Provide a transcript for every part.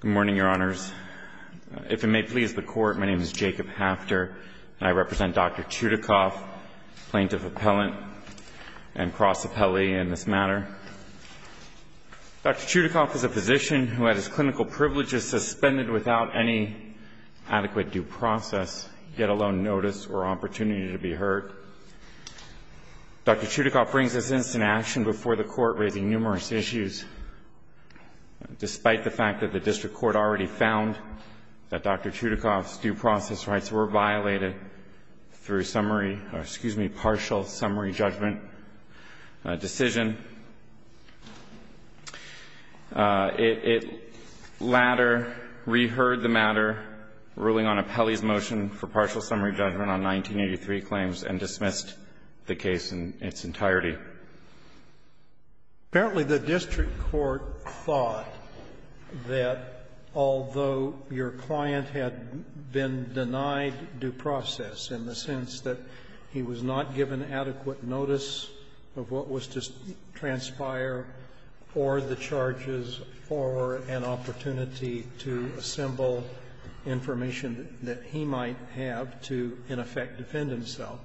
Good morning, Your Honors. If it may please the Court, my name is Jacob Hafter, and I represent Dr. Chudacoff, plaintiff-appellant and cross-appellee in this matter. Dr. Chudacoff is a physician who had his clinical privileges suspended without any adequate due process, let alone notice or opportunity to be heard. Dr. Chudacoff brings this instance in action before the Court, raising numerous issues. Despite the fact that the district court already found that Dr. Chudacoff's due process rights were violated through summary or, excuse me, partial summary judgment decision, it latter reheard the matter ruling on appellee's motion for partial summary judgment on 1983 claims and dismissed the case in its entirety. Apparently, the district court thought that although your client had been denied due process in the sense that he was not given adequate notice of what was to transpire or the charges or an opportunity to assemble information that he might have to, in effect, defend himself,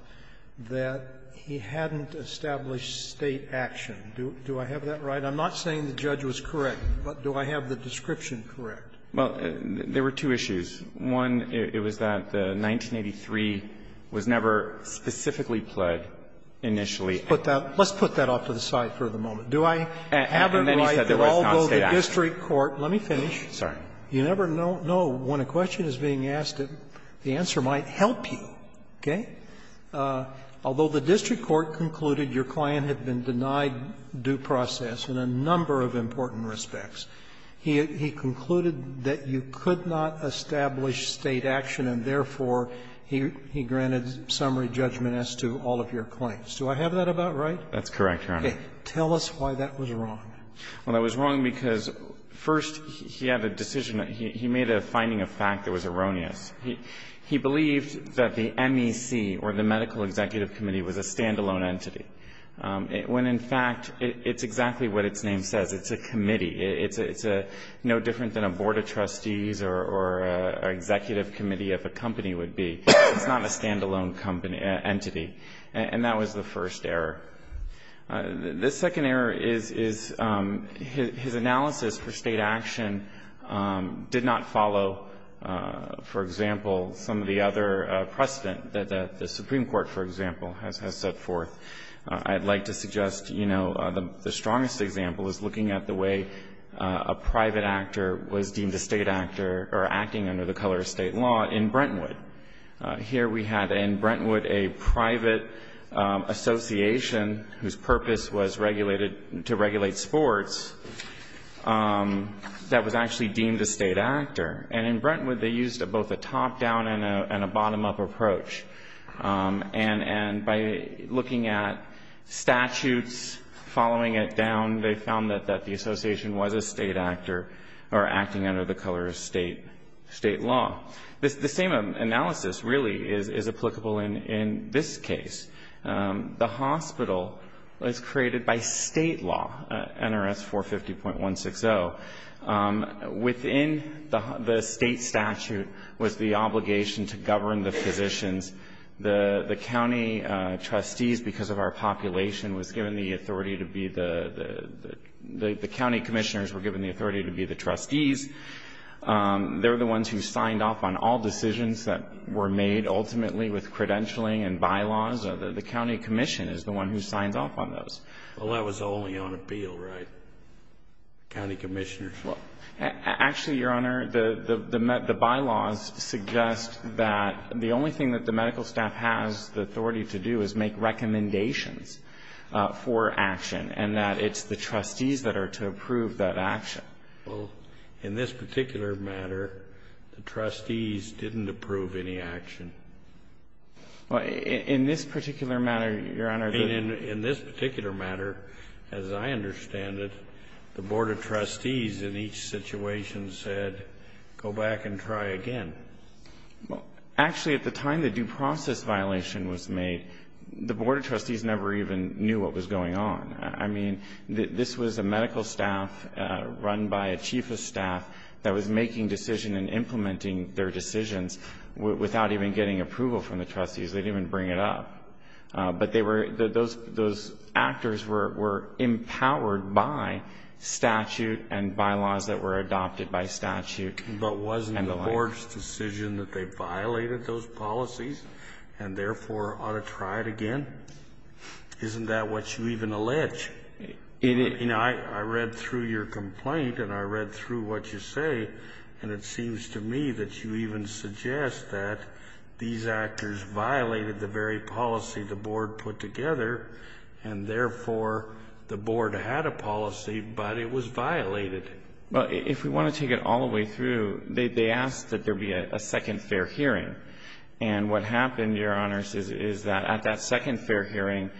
that he hadn't established State action. Do I have that right? I'm not saying the judge was correct, but do I have the description correct? Well, there were two issues. One, it was that 1983 was never specifically pled initially. Let's put that off to the side for the moment. Do I have it right that although the district court, let me finish. Sorry. You never know when a question is being asked, the answer might help you, okay? Although the district court concluded your client had been denied due process in a number of important respects, he concluded that you could not establish State action and, therefore, he granted summary judgment as to all of your claims. Do I have that about right? That's correct, Your Honor. Tell us why that was wrong. Well, that was wrong because, first, he had a decision that he made a finding of fact that was erroneous. He believed that the MEC or the Medical Executive Committee was a standalone entity, when, in fact, it's exactly what its name says. It's a committee. It's no different than a board of trustees or an executive committee of a company would be. It's not a standalone entity, and that was the first error. The second error is his analysis for State action did not follow, for example, some of the other precedent that the Supreme Court, for example, has set forth. I'd like to suggest, you know, the strongest example is looking at the way a private actor was deemed a State actor or acting under the color of State law in Brentwood. Here we had in Brentwood a private association whose purpose was regulated to regulate sports that was actually deemed a State actor. And in Brentwood, they used both a top-down and a bottom-up approach. And by looking at statutes, following it down, they found that the association was a State actor or acting under the color of State law. The same analysis, really, is applicable in this case. The hospital was created by State law, NRS 450.160. Within the State statute was the obligation to govern the physicians. The county trustees, because of our population, was given the authority to be the... The county commissioners were given the authority to be the trustees. They're the ones who signed off on all decisions that were made ultimately with credentialing and bylaws. The county commission is the one who signs off on those. Well, that was only on appeal, right? The county commissioners... Well, actually, Your Honor, the bylaws suggest that the only thing that the medical staff has the authority to do is make recommendations for action and that it's the trustees that are to approve that action. Well, in this particular matter, the trustees didn't approve any action. Well, in this particular matter, Your Honor... In this particular matter, as I understand it, the board of trustees in each situation said, go back and try again. Well, actually, at the time the due process violation was made, the board of trustees never even knew what was going on. I mean, this was a medical staff run by a chief of staff that was making decisions and implementing their decisions without even getting approval from the trustees. They didn't even bring it up, but those actors were empowered by statute and bylaws that were adopted by statute. But wasn't the board's decision that they violated those policies and therefore ought to try it again? Isn't that what you even allege? You know, I read through your complaint and I read through what you say, and it seems to me that you even suggest that these actors violated the very policy the board put together, and therefore, the board had a policy, but it was violated. Well, if we want to take it all the way through, they asked that there be a second fair hearing. And what happened, Your Honors, is that at that second fair hearing,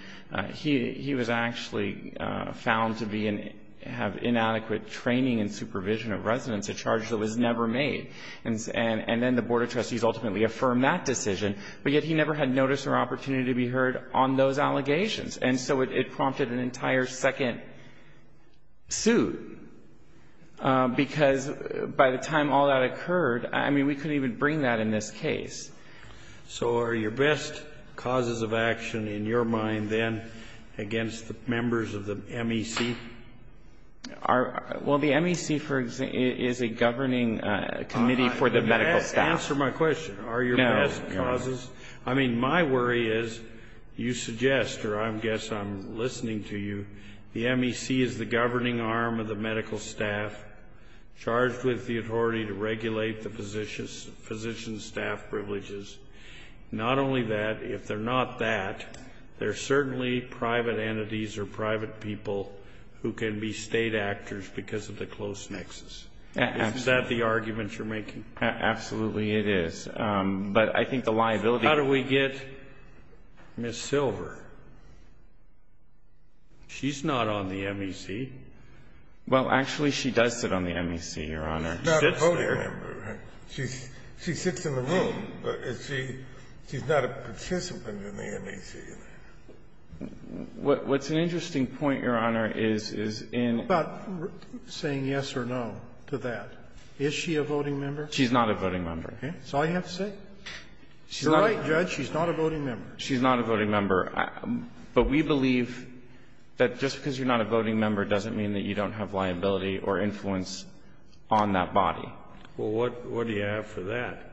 he was actually found to have inadequate training and supervision of residents, a charge that was never made. And then the board of trustees ultimately affirmed that decision, but yet he never had notice or opportunity to be heard on those allegations. And so it prompted an entire second suit, because by the time all that occurred, I mean, we couldn't even bring that in this case. So are your best causes of action in your mind, then, against the members of the MEC? Well, the MEC is a governing committee for the medical staff. Answer my question. Are your best causes? I mean, my worry is you suggest, or I guess I'm listening to you, the MEC is the governing arm of the medical staff, charged with the authority to regulate the physician's staff privileges. Not only that, if they're not that, they're certainly private entities or private people who can be State actors because of the close nexus. Is that the argument you're making? Absolutely it is. But I think the liability- How do we get Ms. Silver? She's not on the MEC. Well, actually, she does sit on the MEC, Your Honor. She sits there. She's not a voting member. She sits in the room, but she's not a participant in the MEC. What's an interesting point, Your Honor, is in- What about saying yes or no to that? Is she a voting member? She's not a voting member. Okay. That's all you have to say? She's not a- You're right, Judge. She's not a voting member. She's not a voting member. But we believe that just because you're not a voting member doesn't mean that you don't have liability or influence on that body. Well, what do you have for that?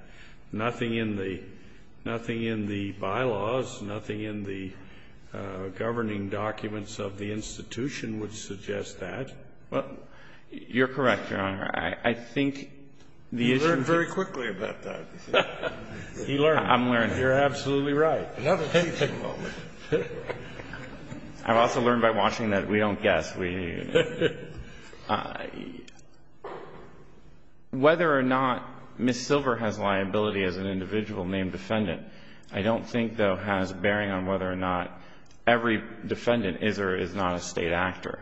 Nothing in the bylaws, nothing in the governing documents of the institution would suggest that. You're correct, Your Honor. I think the issue- You learned very quickly about that. You learned. I'm learning. You're absolutely right. Another teaching moment. I've also learned by watching that we don't guess. Whether or not Ms. Silver has liability as an individual named defendant, I don't think, though, has bearing on whether or not every defendant is or is not a State actor.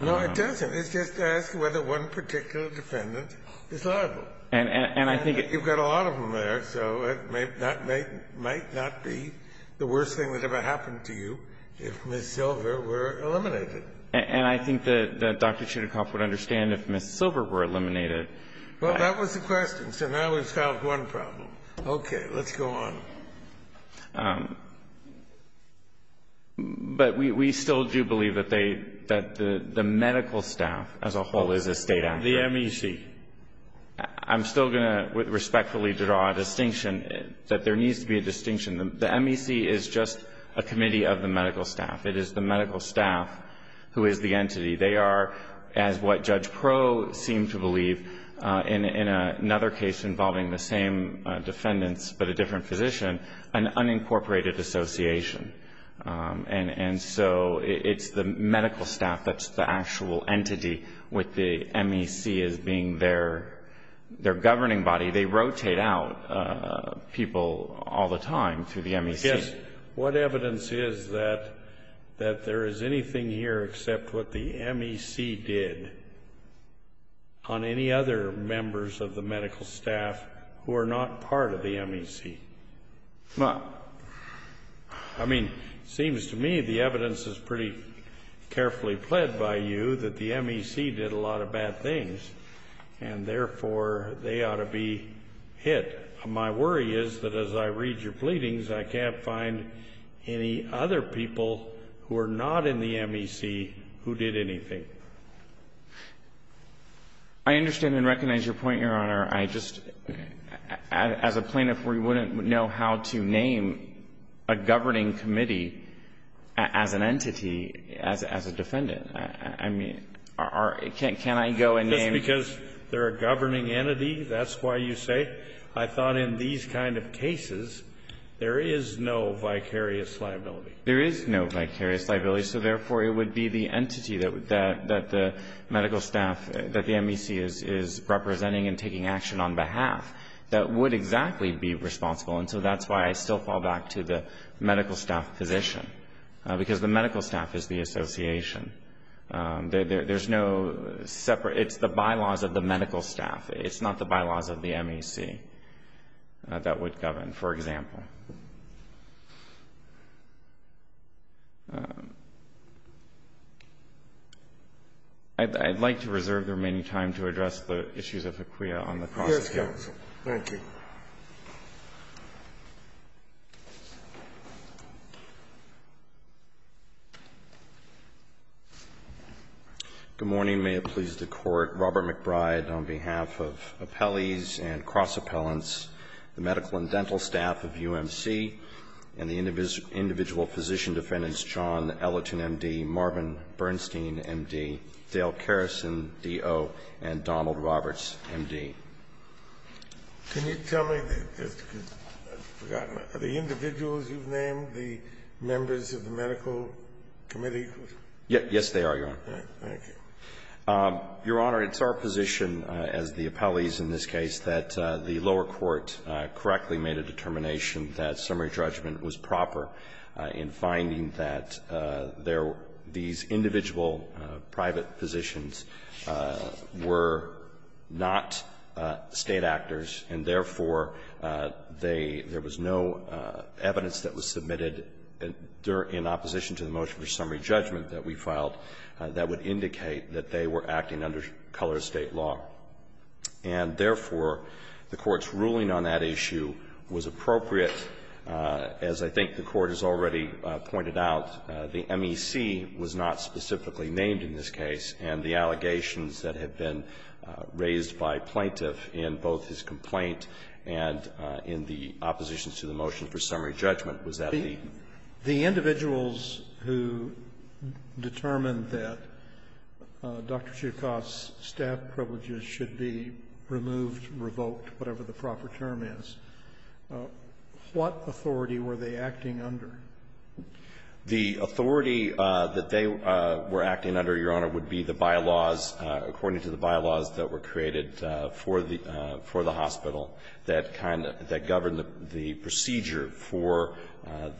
No, it doesn't. It's just asking whether one particular defendant is liable. And I think- You've got a lot of them there, so it might not be the worst thing that ever happened to you if Ms. Silver were eliminated. And I think that Dr. Chudikoff would understand if Ms. Silver were eliminated. Well, that was the question, so now we've solved one problem. Okay, let's go on. But we still do believe that the medical staff as a whole is a State actor. The MEC. I'm still going to respectfully draw a distinction, that there needs to be a distinction. The MEC is just a committee of the medical staff. It is the medical staff who is the entity. They are, as what Judge Proh seemed to believe in another case involving the same defendants but a different physician, an unincorporated association. And so it's the medical staff that's the actual entity with the MEC as being their governing body. They rotate out people all the time through the MEC. I guess what evidence is that there is anything here except what the MEC did on any other members of the medical staff who are not part of the MEC? Well, I mean, it seems to me the evidence is pretty carefully pled by you that the MEC did a lot of bad things, and therefore, they ought to be hit. My worry is that as I read your pleadings, I can't find any other people who are not in the MEC who did anything. I understand and recognize your point, Your Honor. I just, as a plaintiff, we wouldn't know how to name a governing committee as an entity, as a defendant. I mean, can I go and name? Just because they're a governing entity, that's why you say? I thought in these kind of cases, there is no vicarious liability. There is no vicarious liability. So therefore, it would be the entity that the medical staff, that the MEC is representing and taking action on behalf, that would exactly be responsible, and so that's why I still fall back to the medical staff position, because the medical staff is the association. There's no separate, it's the bylaws of the medical staff. It's not the bylaws of the MEC that would govern, for example. Thank you, Your Honor. I'd like to reserve the remaining time to address the issues of ACQUIA on the process counsel. Scalia. Yes, counsel. Good morning. May it please the Court. Robert McBride, on behalf of appellees and cross-appellants, the medical and dental staff of UMC, and the individual physician defendants, John Ellerton, M.D., Marvin Bernstein, M.D., Dale Kerrison, D.O., and Donald Roberts, M.D. Can you tell me the individuals you've named, the members of the medical committee? Yes, they are, Your Honor. Thank you. Your Honor, it's our position, as the appellees in this case, that the lower court correctly made a determination that summary judgment was proper in finding that these individual private physicians were not State actors, and therefore, there was no evidence that was submitted in opposition to the motion for summary judgment that we filed that would indicate that they were acting under color of State law. And therefore, the Court's ruling on that issue was appropriate. As I think the Court has already pointed out, the MEC was not specifically named in this case, and the allegations that have been raised by plaintiff in both his complaint and in the opposition to the motion for summary judgment was that the The individuals who determined that Dr. Choucaud's staff privileges should be removed, revoked, whatever the proper term is, what authority were they acting under? The authority that they were acting under, Your Honor, would be the bylaws, according to the bylaws that were created for the hospital, that govern the procedure for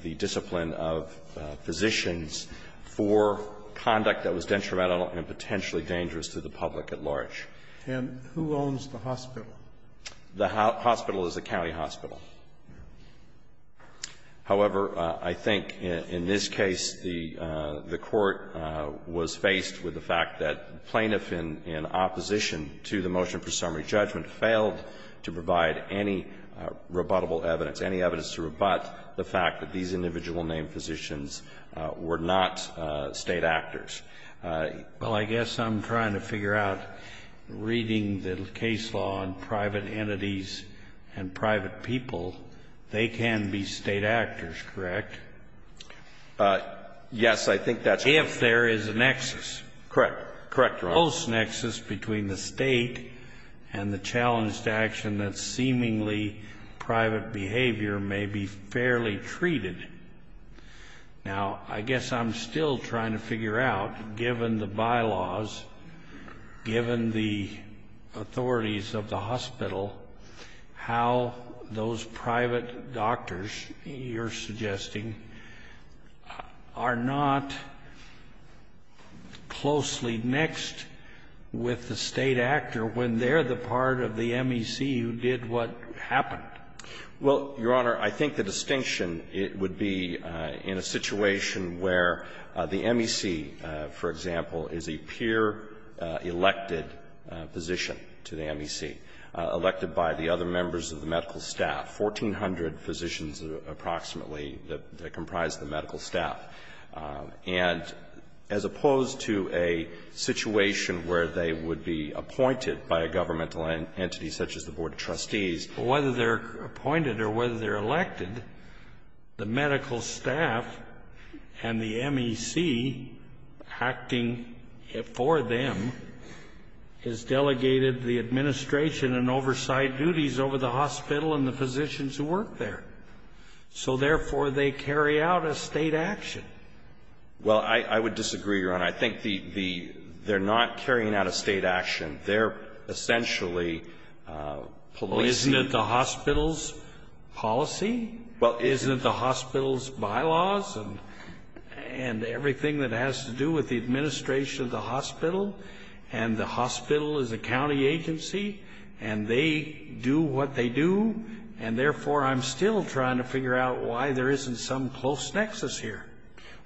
the discipline of physicians for conduct that was detrimental and potentially dangerous to the public at large. And who owns the hospital? The hospital is a county hospital. However, I think in this case, the Court was faced with the fact that plaintiff in opposition to the motion for summary judgment failed to provide any rebuttable evidence, any evidence to rebut the fact that these individual named physicians were not State actors. Well, I guess I'm trying to figure out, reading the case law on private entities and private people, they can be State actors, correct? Yes, I think that's correct. Correct. Correct, Your Honor. There's a close nexus between the State and the challenge to action that's seemingly private behavior may be fairly treated. Now, I guess I'm still trying to figure out, given the bylaws, given the authorities of the hospital, how those private doctors you're suggesting are not closely mixed with the State actor when they're the part of the MEC who did what happened. Well, Your Honor, I think the distinction would be in a situation where the MEC, for example, appointed a physician to the MEC elected by the other members of the medical staff, 1,400 physicians approximately that comprise the medical staff, and as opposed to a situation where they would be appointed by a governmental entity such as the Board of Trustees. Whether they're appointed or whether they're elected, the medical staff and the MEC acting for them has delegated the administration and oversight duties over the hospital and the physicians who work there. So, therefore, they carry out a State action. Well, I would disagree, Your Honor. I think the they're not carrying out a State action. They're essentially policing. Well, isn't it the hospital's policy? Isn't it the hospital's bylaws and everything that has to do with the administration of the hospital? And the hospital is a county agency, and they do what they do, and, therefore, I'm still trying to figure out why there isn't some close nexus here.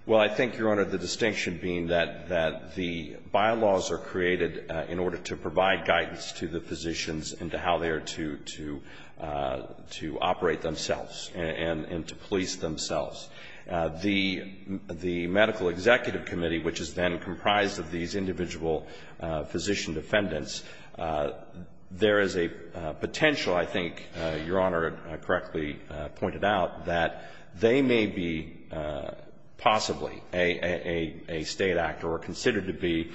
Well, I think, Your Honor, the distinction being that the bylaws are created in order to provide guidance to the physicians and to how they are to operate themselves and to police themselves. The Medical Executive Committee, which is then comprised of these individual physician defendants, there is a potential, I think Your Honor correctly pointed out, that they may be possibly a State actor or considered to be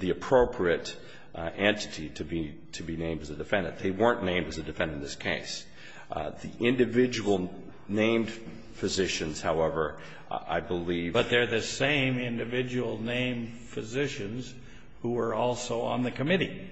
the appropriate entity to be named as a defendant. They weren't named as a defendant in this case. The individual named physicians, however, I believe But they're the same individual named physicians who are also on the committee.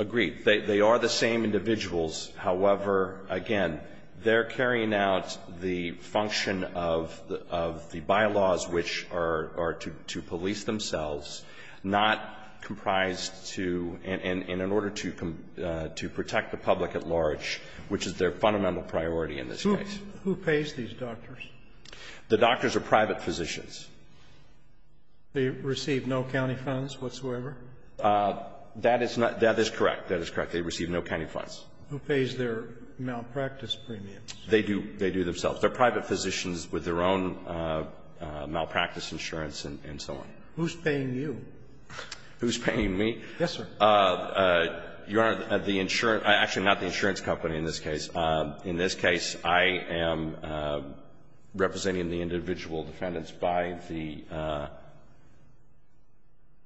Agreed. They are the same individuals. However, again, they're carrying out the function of the bylaws, which are to police themselves, not comprised to, and in order to protect the public at large, which is their fundamental priority in this case. Who pays these doctors? The doctors are private physicians. They receive no county funds whatsoever? That is correct. That is correct. They receive no county funds. Who pays their malpractice premiums? They do. They do themselves. They're private physicians with their own malpractice insurance and so on. Who's paying you? Who's paying me? Yes, sir. Your Honor, the insurance — actually, not the insurance company in this case. In this case, I am representing the individual defendants by the —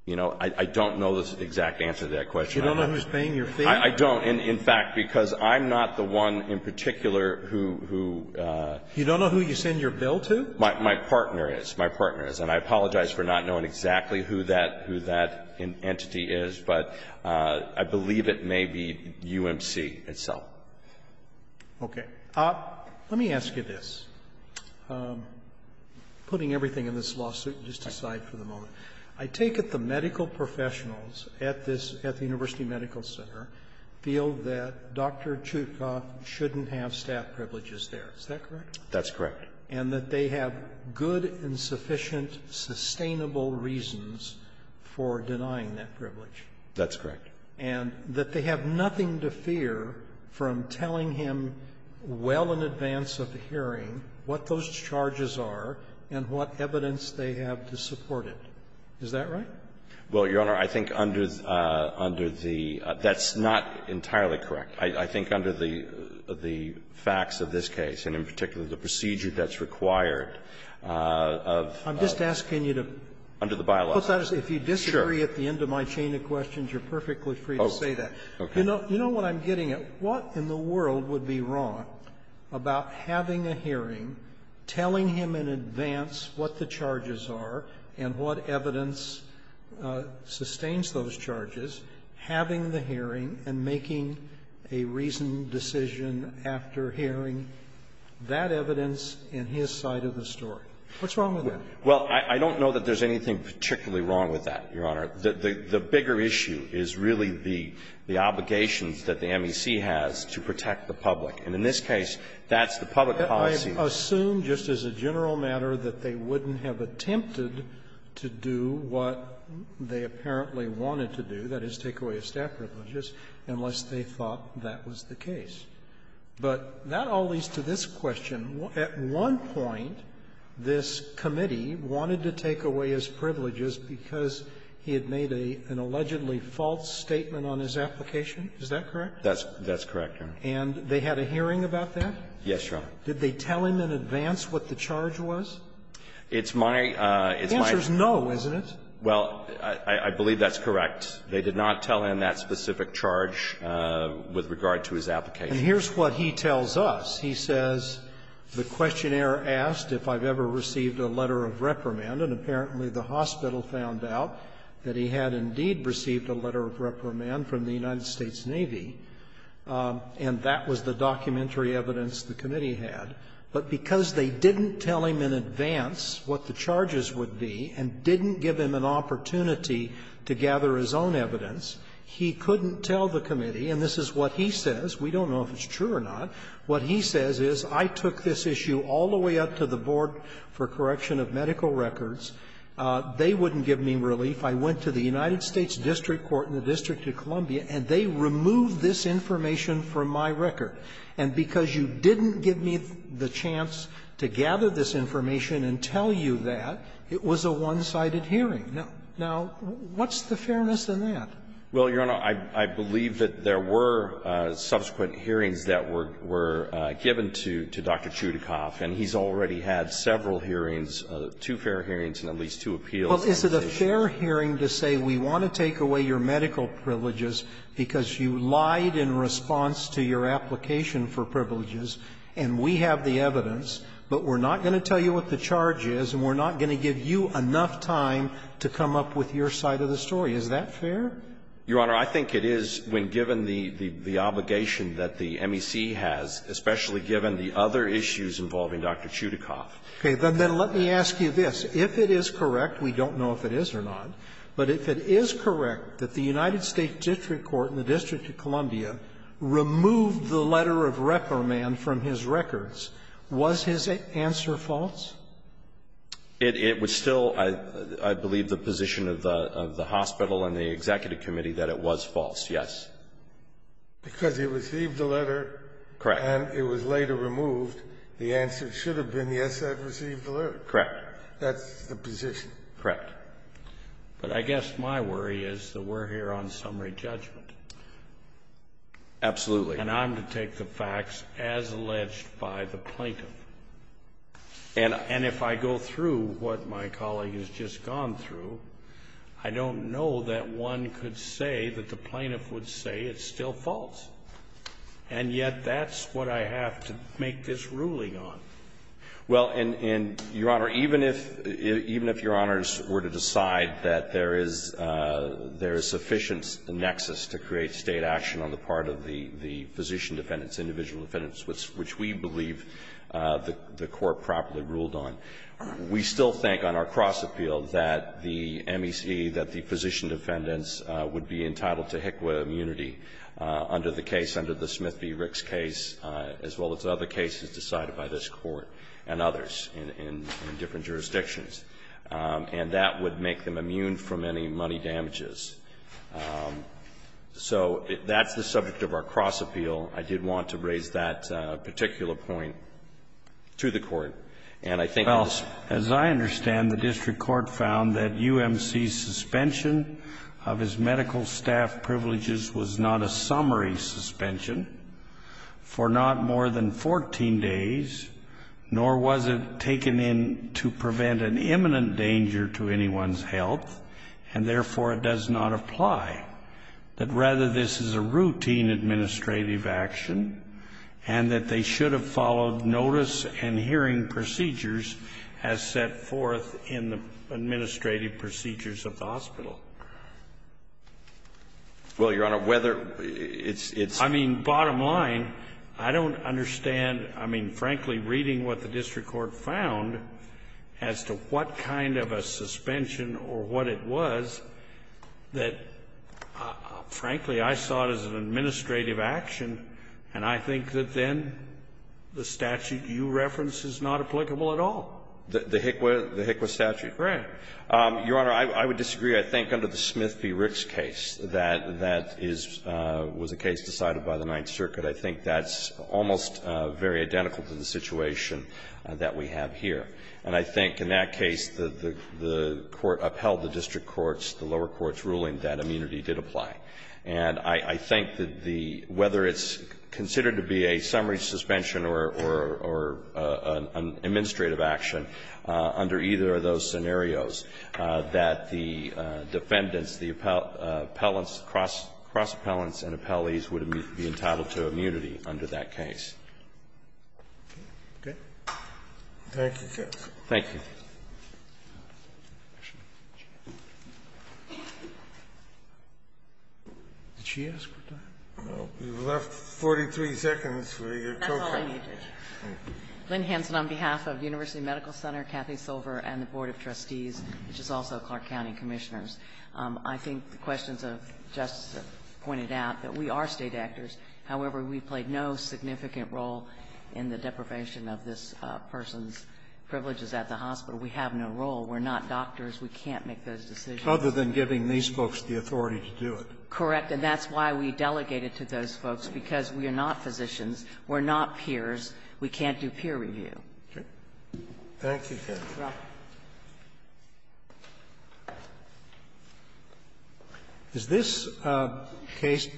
you know, I don't know the exact answer to that question. You don't know who's paying your fee? I don't. In fact, because I'm not the one in particular who — You don't know who you send your bill to? My partner is. My partner is. And I apologize for not knowing exactly who that entity is. But I believe it may be UMC itself. Okay. Let me ask you this, putting everything in this lawsuit just aside for the moment. I take it the medical professionals at this — at the University Medical Center feel that Dr. Chutkoff shouldn't have staff privileges there. Is that correct? That's correct. And that they have good and sufficient sustainable reasons for denying that privilege. That's correct. And that they have nothing to fear from telling him well in advance of the hearing what those charges are and what evidence they have to support it. Is that right? Well, Your Honor, I think under the — that's not entirely correct. I think under the facts of this case, and in particular the procedure that's required of — I'm just asking you to — Under the bylaws. Sure. If you disagree at the end of my chain of questions, you're perfectly free to say that. Okay. You know what I'm getting at? What in the world would be wrong about having a hearing telling him in advance what the charges are and what evidence sustains those charges, having the hearing and making a reasoned decision after hearing that evidence in his side of the story? What's wrong with that? Well, I don't know that there's anything particularly wrong with that, Your Honor. The bigger issue is really the obligations that the MEC has to protect the public. And in this case, that's the public policy. I assume, just as a general matter, that they wouldn't have attempted to do what they apparently wanted to do, that is, take away his staff privileges, unless they thought that was the case. But that all leads to this question. At one point, this committee wanted to take away his privileges because he had made an allegedly false statement on his application. Is that correct? That's correct, Your Honor. And they had a hearing about that? Yes, Your Honor. Did they tell him in advance what the charge was? It's my — it's my — The answer is no, isn't it? Well, I believe that's correct. They did not tell him that specific charge with regard to his application. And here's what he tells us. He says, the questionnaire asked if I've ever received a letter of reprimand, and apparently the hospital found out that he had indeed received a letter of reprimand from the United States Navy, and that was the documentary evidence the committee had. But because they didn't tell him in advance what the charges would be and didn't give him an opportunity to gather his own evidence, he couldn't tell the committee — and this is what he says, we don't know if it's true or not — what he says is, I took this issue all the way up to the Board for Correction of Medical Records, they wouldn't give me relief. I went to the United States district court in the District of Columbia, and they removed this information from my record. And because you didn't give me the chance to gather this information and tell you that, it was a one-sided hearing. Now, what's the fairness in that? Well, Your Honor, I believe that there were subsequent hearings that were given to Dr. Chudikoff, and he's already had several hearings, two fair hearings and at least two appeals. Well, is it a fair hearing to say we want to take away your medical privileges because you lied in response to your application for privileges, and we have the evidence, but we're not going to tell you what the charge is, and we're not going to give you enough time to come up with your side of the story? Is that fair? Your Honor, I think it is when given the obligation that the MEC has, especially given the other issues involving Dr. Chudikoff. Okay. Then let me ask you this. If it is correct, we don't know if it is or not, but if it is correct that the United States district court in the District of Columbia removed the letter of reprimand from his records, was his answer false? It was still, I believe, the position of the hospital and the executive committee that it was false, yes. Because he received the letter. Correct. And it was later removed. The answer should have been, yes, I've received the letter. Correct. That's the position. Correct. But I guess my worry is that we're here on summary judgment. Absolutely. And I'm to take the facts as alleged by the plaintiff. And if I go through what my colleague has just gone through, I don't know that one could say that the plaintiff would say it's still false. And yet that's what I have to make this ruling on. Well, and, Your Honor, even if your Honors were to decide that there is sufficient nexus to create State action on the part of the physician defendants, individual defendants, which we believe the Court properly ruled on, we still think on our cross-appeal that the MEC, that the physician defendants would be entitled to HICWA immunity under the case, under the Smith v. Ricks case, as well as other cases decided by this Court and others in different jurisdictions. And that would make them immune from any money damages. So that's the subject of our cross-appeal. I did want to raise that particular point to the Court. And I think it's Well, as I understand, the district court found that UMC's suspension of his medical staff privileges was not a summary suspension for not more than 14 days, nor was it taken in to prevent an imminent danger to anyone's health, and therefore it does not apply, that rather this is a routine administrative action, and that they should have followed notice and hearing procedures as set forth in the administrative procedures of the hospital. Well, Your Honor, whether it's I mean, bottom line, I don't understand. I mean, frankly, reading what the district court found as to what kind of a suspension or what it was, that, frankly, I saw it as an administrative action, and I think that then the statute you reference is not applicable at all. The HICWA statute. Correct. Your Honor, I would disagree. I think under the Smith v. Ricks case, that that is was a case decided by the Ninth Circuit, and it's very identical to the situation that we have here. And I think in that case, the court upheld the district court's, the lower court's ruling that immunity did apply. And I think that the — whether it's considered to be a summary suspension or an administrative action under either of those scenarios, that the defendants, the appellants, cross-appellants and appellees would be entitled to immunity under that case. Okay. Thank you, Justice. Thank you. Did she ask her time? You have left 43 seconds for your co-comment. That's all I needed. Lynn Hansen, on behalf of University Medical Center, Kathy Silver, and the Board of Trustees, which is also Clark County Commissioners, I think the questions of Justice have pointed out that we are State actors. However, we played no significant role in the deprivation of this person's privileges at the hospital. We have no role. We're not doctors. We can't make those decisions. Other than giving these folks the authority to do it. Correct. And that's why we delegated to those folks, because we are not physicians, we're not peers, we can't do peer review. Okay. Thank you, Kathy. You're welcome. Does this case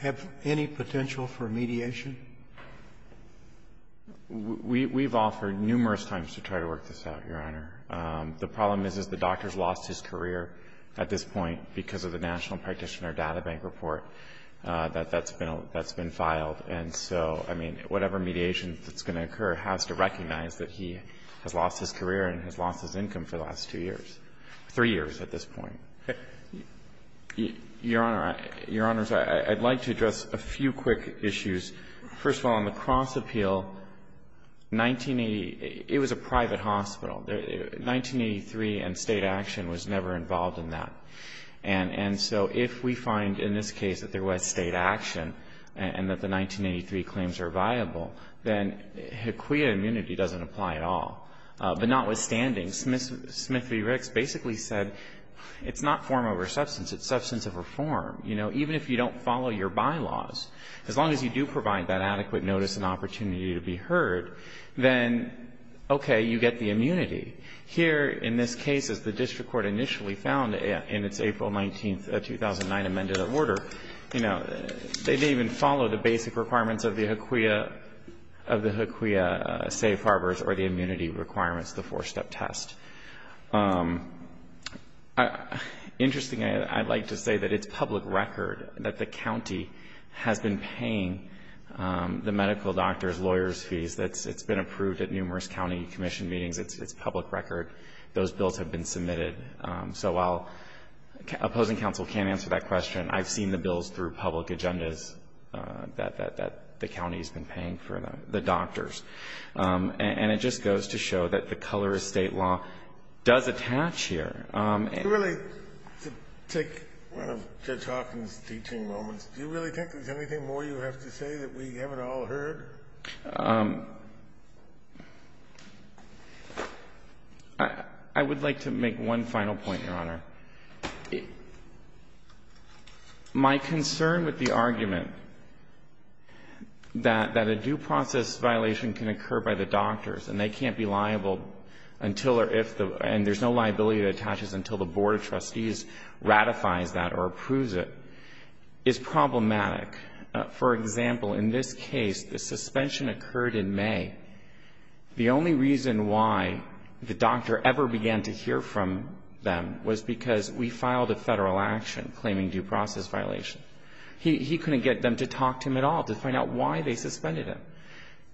have any potential for mediation? We've offered numerous times to try to work this out, Your Honor. The problem is, is the doctor's lost his career at this point because of the National Practitioner Data Bank report that's been filed. And so, I mean, whatever mediation that's going to occur has to recognize that he has lost his career and has lost his income for the last two years, three years at this point. Your Honor, I'd like to address a few quick issues. First of all, on the cross-appeal, 1980, it was a private hospital. 1983 and State action was never involved in that. And so if we find in this case that there was State action and that the 1983 claims are viable, then HEQIA immunity doesn't apply at all. But notwithstanding, Smith v. Ricks basically said it's not form over substance, it's substance over form. You know, even if you don't follow your bylaws, as long as you do provide that adequate notice and opportunity to be heard, then, okay, you get the immunity. Here, in this case, as the district court initially found in its April 19, 2009, amended order, you know, they didn't even follow the basic requirements of the HEQIA safe requirements, the four-step test. Interesting, I'd like to say that it's public record that the county has been paying the medical doctors' lawyers' fees. It's been approved at numerous county commission meetings. It's public record. Those bills have been submitted. So while opposing counsel can't answer that question, I've seen the bills through public agendas that the county's been paying for the doctors. And it just goes to show that the color of state law does attach here. And really, to take one of Judge Hawkins' teaching moments, do you really think there's anything more you have to say that we haven't all heard? I would like to make one final point, Your Honor. My concern with the argument that a due process violation can occur by the doctors and they can't be liable until or if the, and there's no liability that attaches until the board of trustees ratifies that or approves it, is problematic. For example, in this case, the suspension occurred in May. The only reason why the doctor ever began to hear from them was because we filed a federal action claiming due process violation. He couldn't get them to talk to him at all to find out why they suspended him.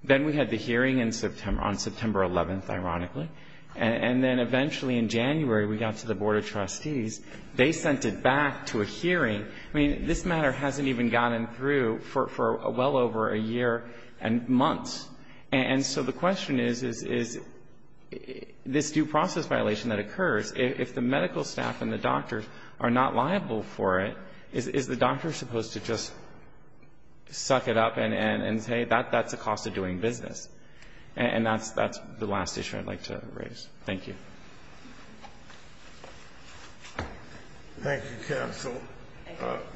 Then we had the hearing in September, on September 11th, ironically. And then eventually in January, we got to the board of trustees. They sent it back to a hearing. I mean, this matter hasn't even gotten through for well over a year and months. And so the question is, is this due process violation that occurs, if the medical staff and the doctors are not liable for it, is the doctor supposed to just suck it up and say, that's the cost of doing business? And that's the last issue I'd like to raise. Thank you. Thank you, counsel.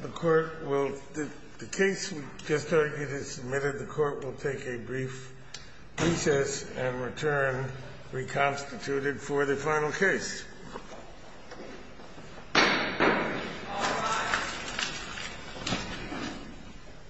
The court will, the case we just argued is submitted. The court will take a brief recess and return reconstituted for the final case. All rise.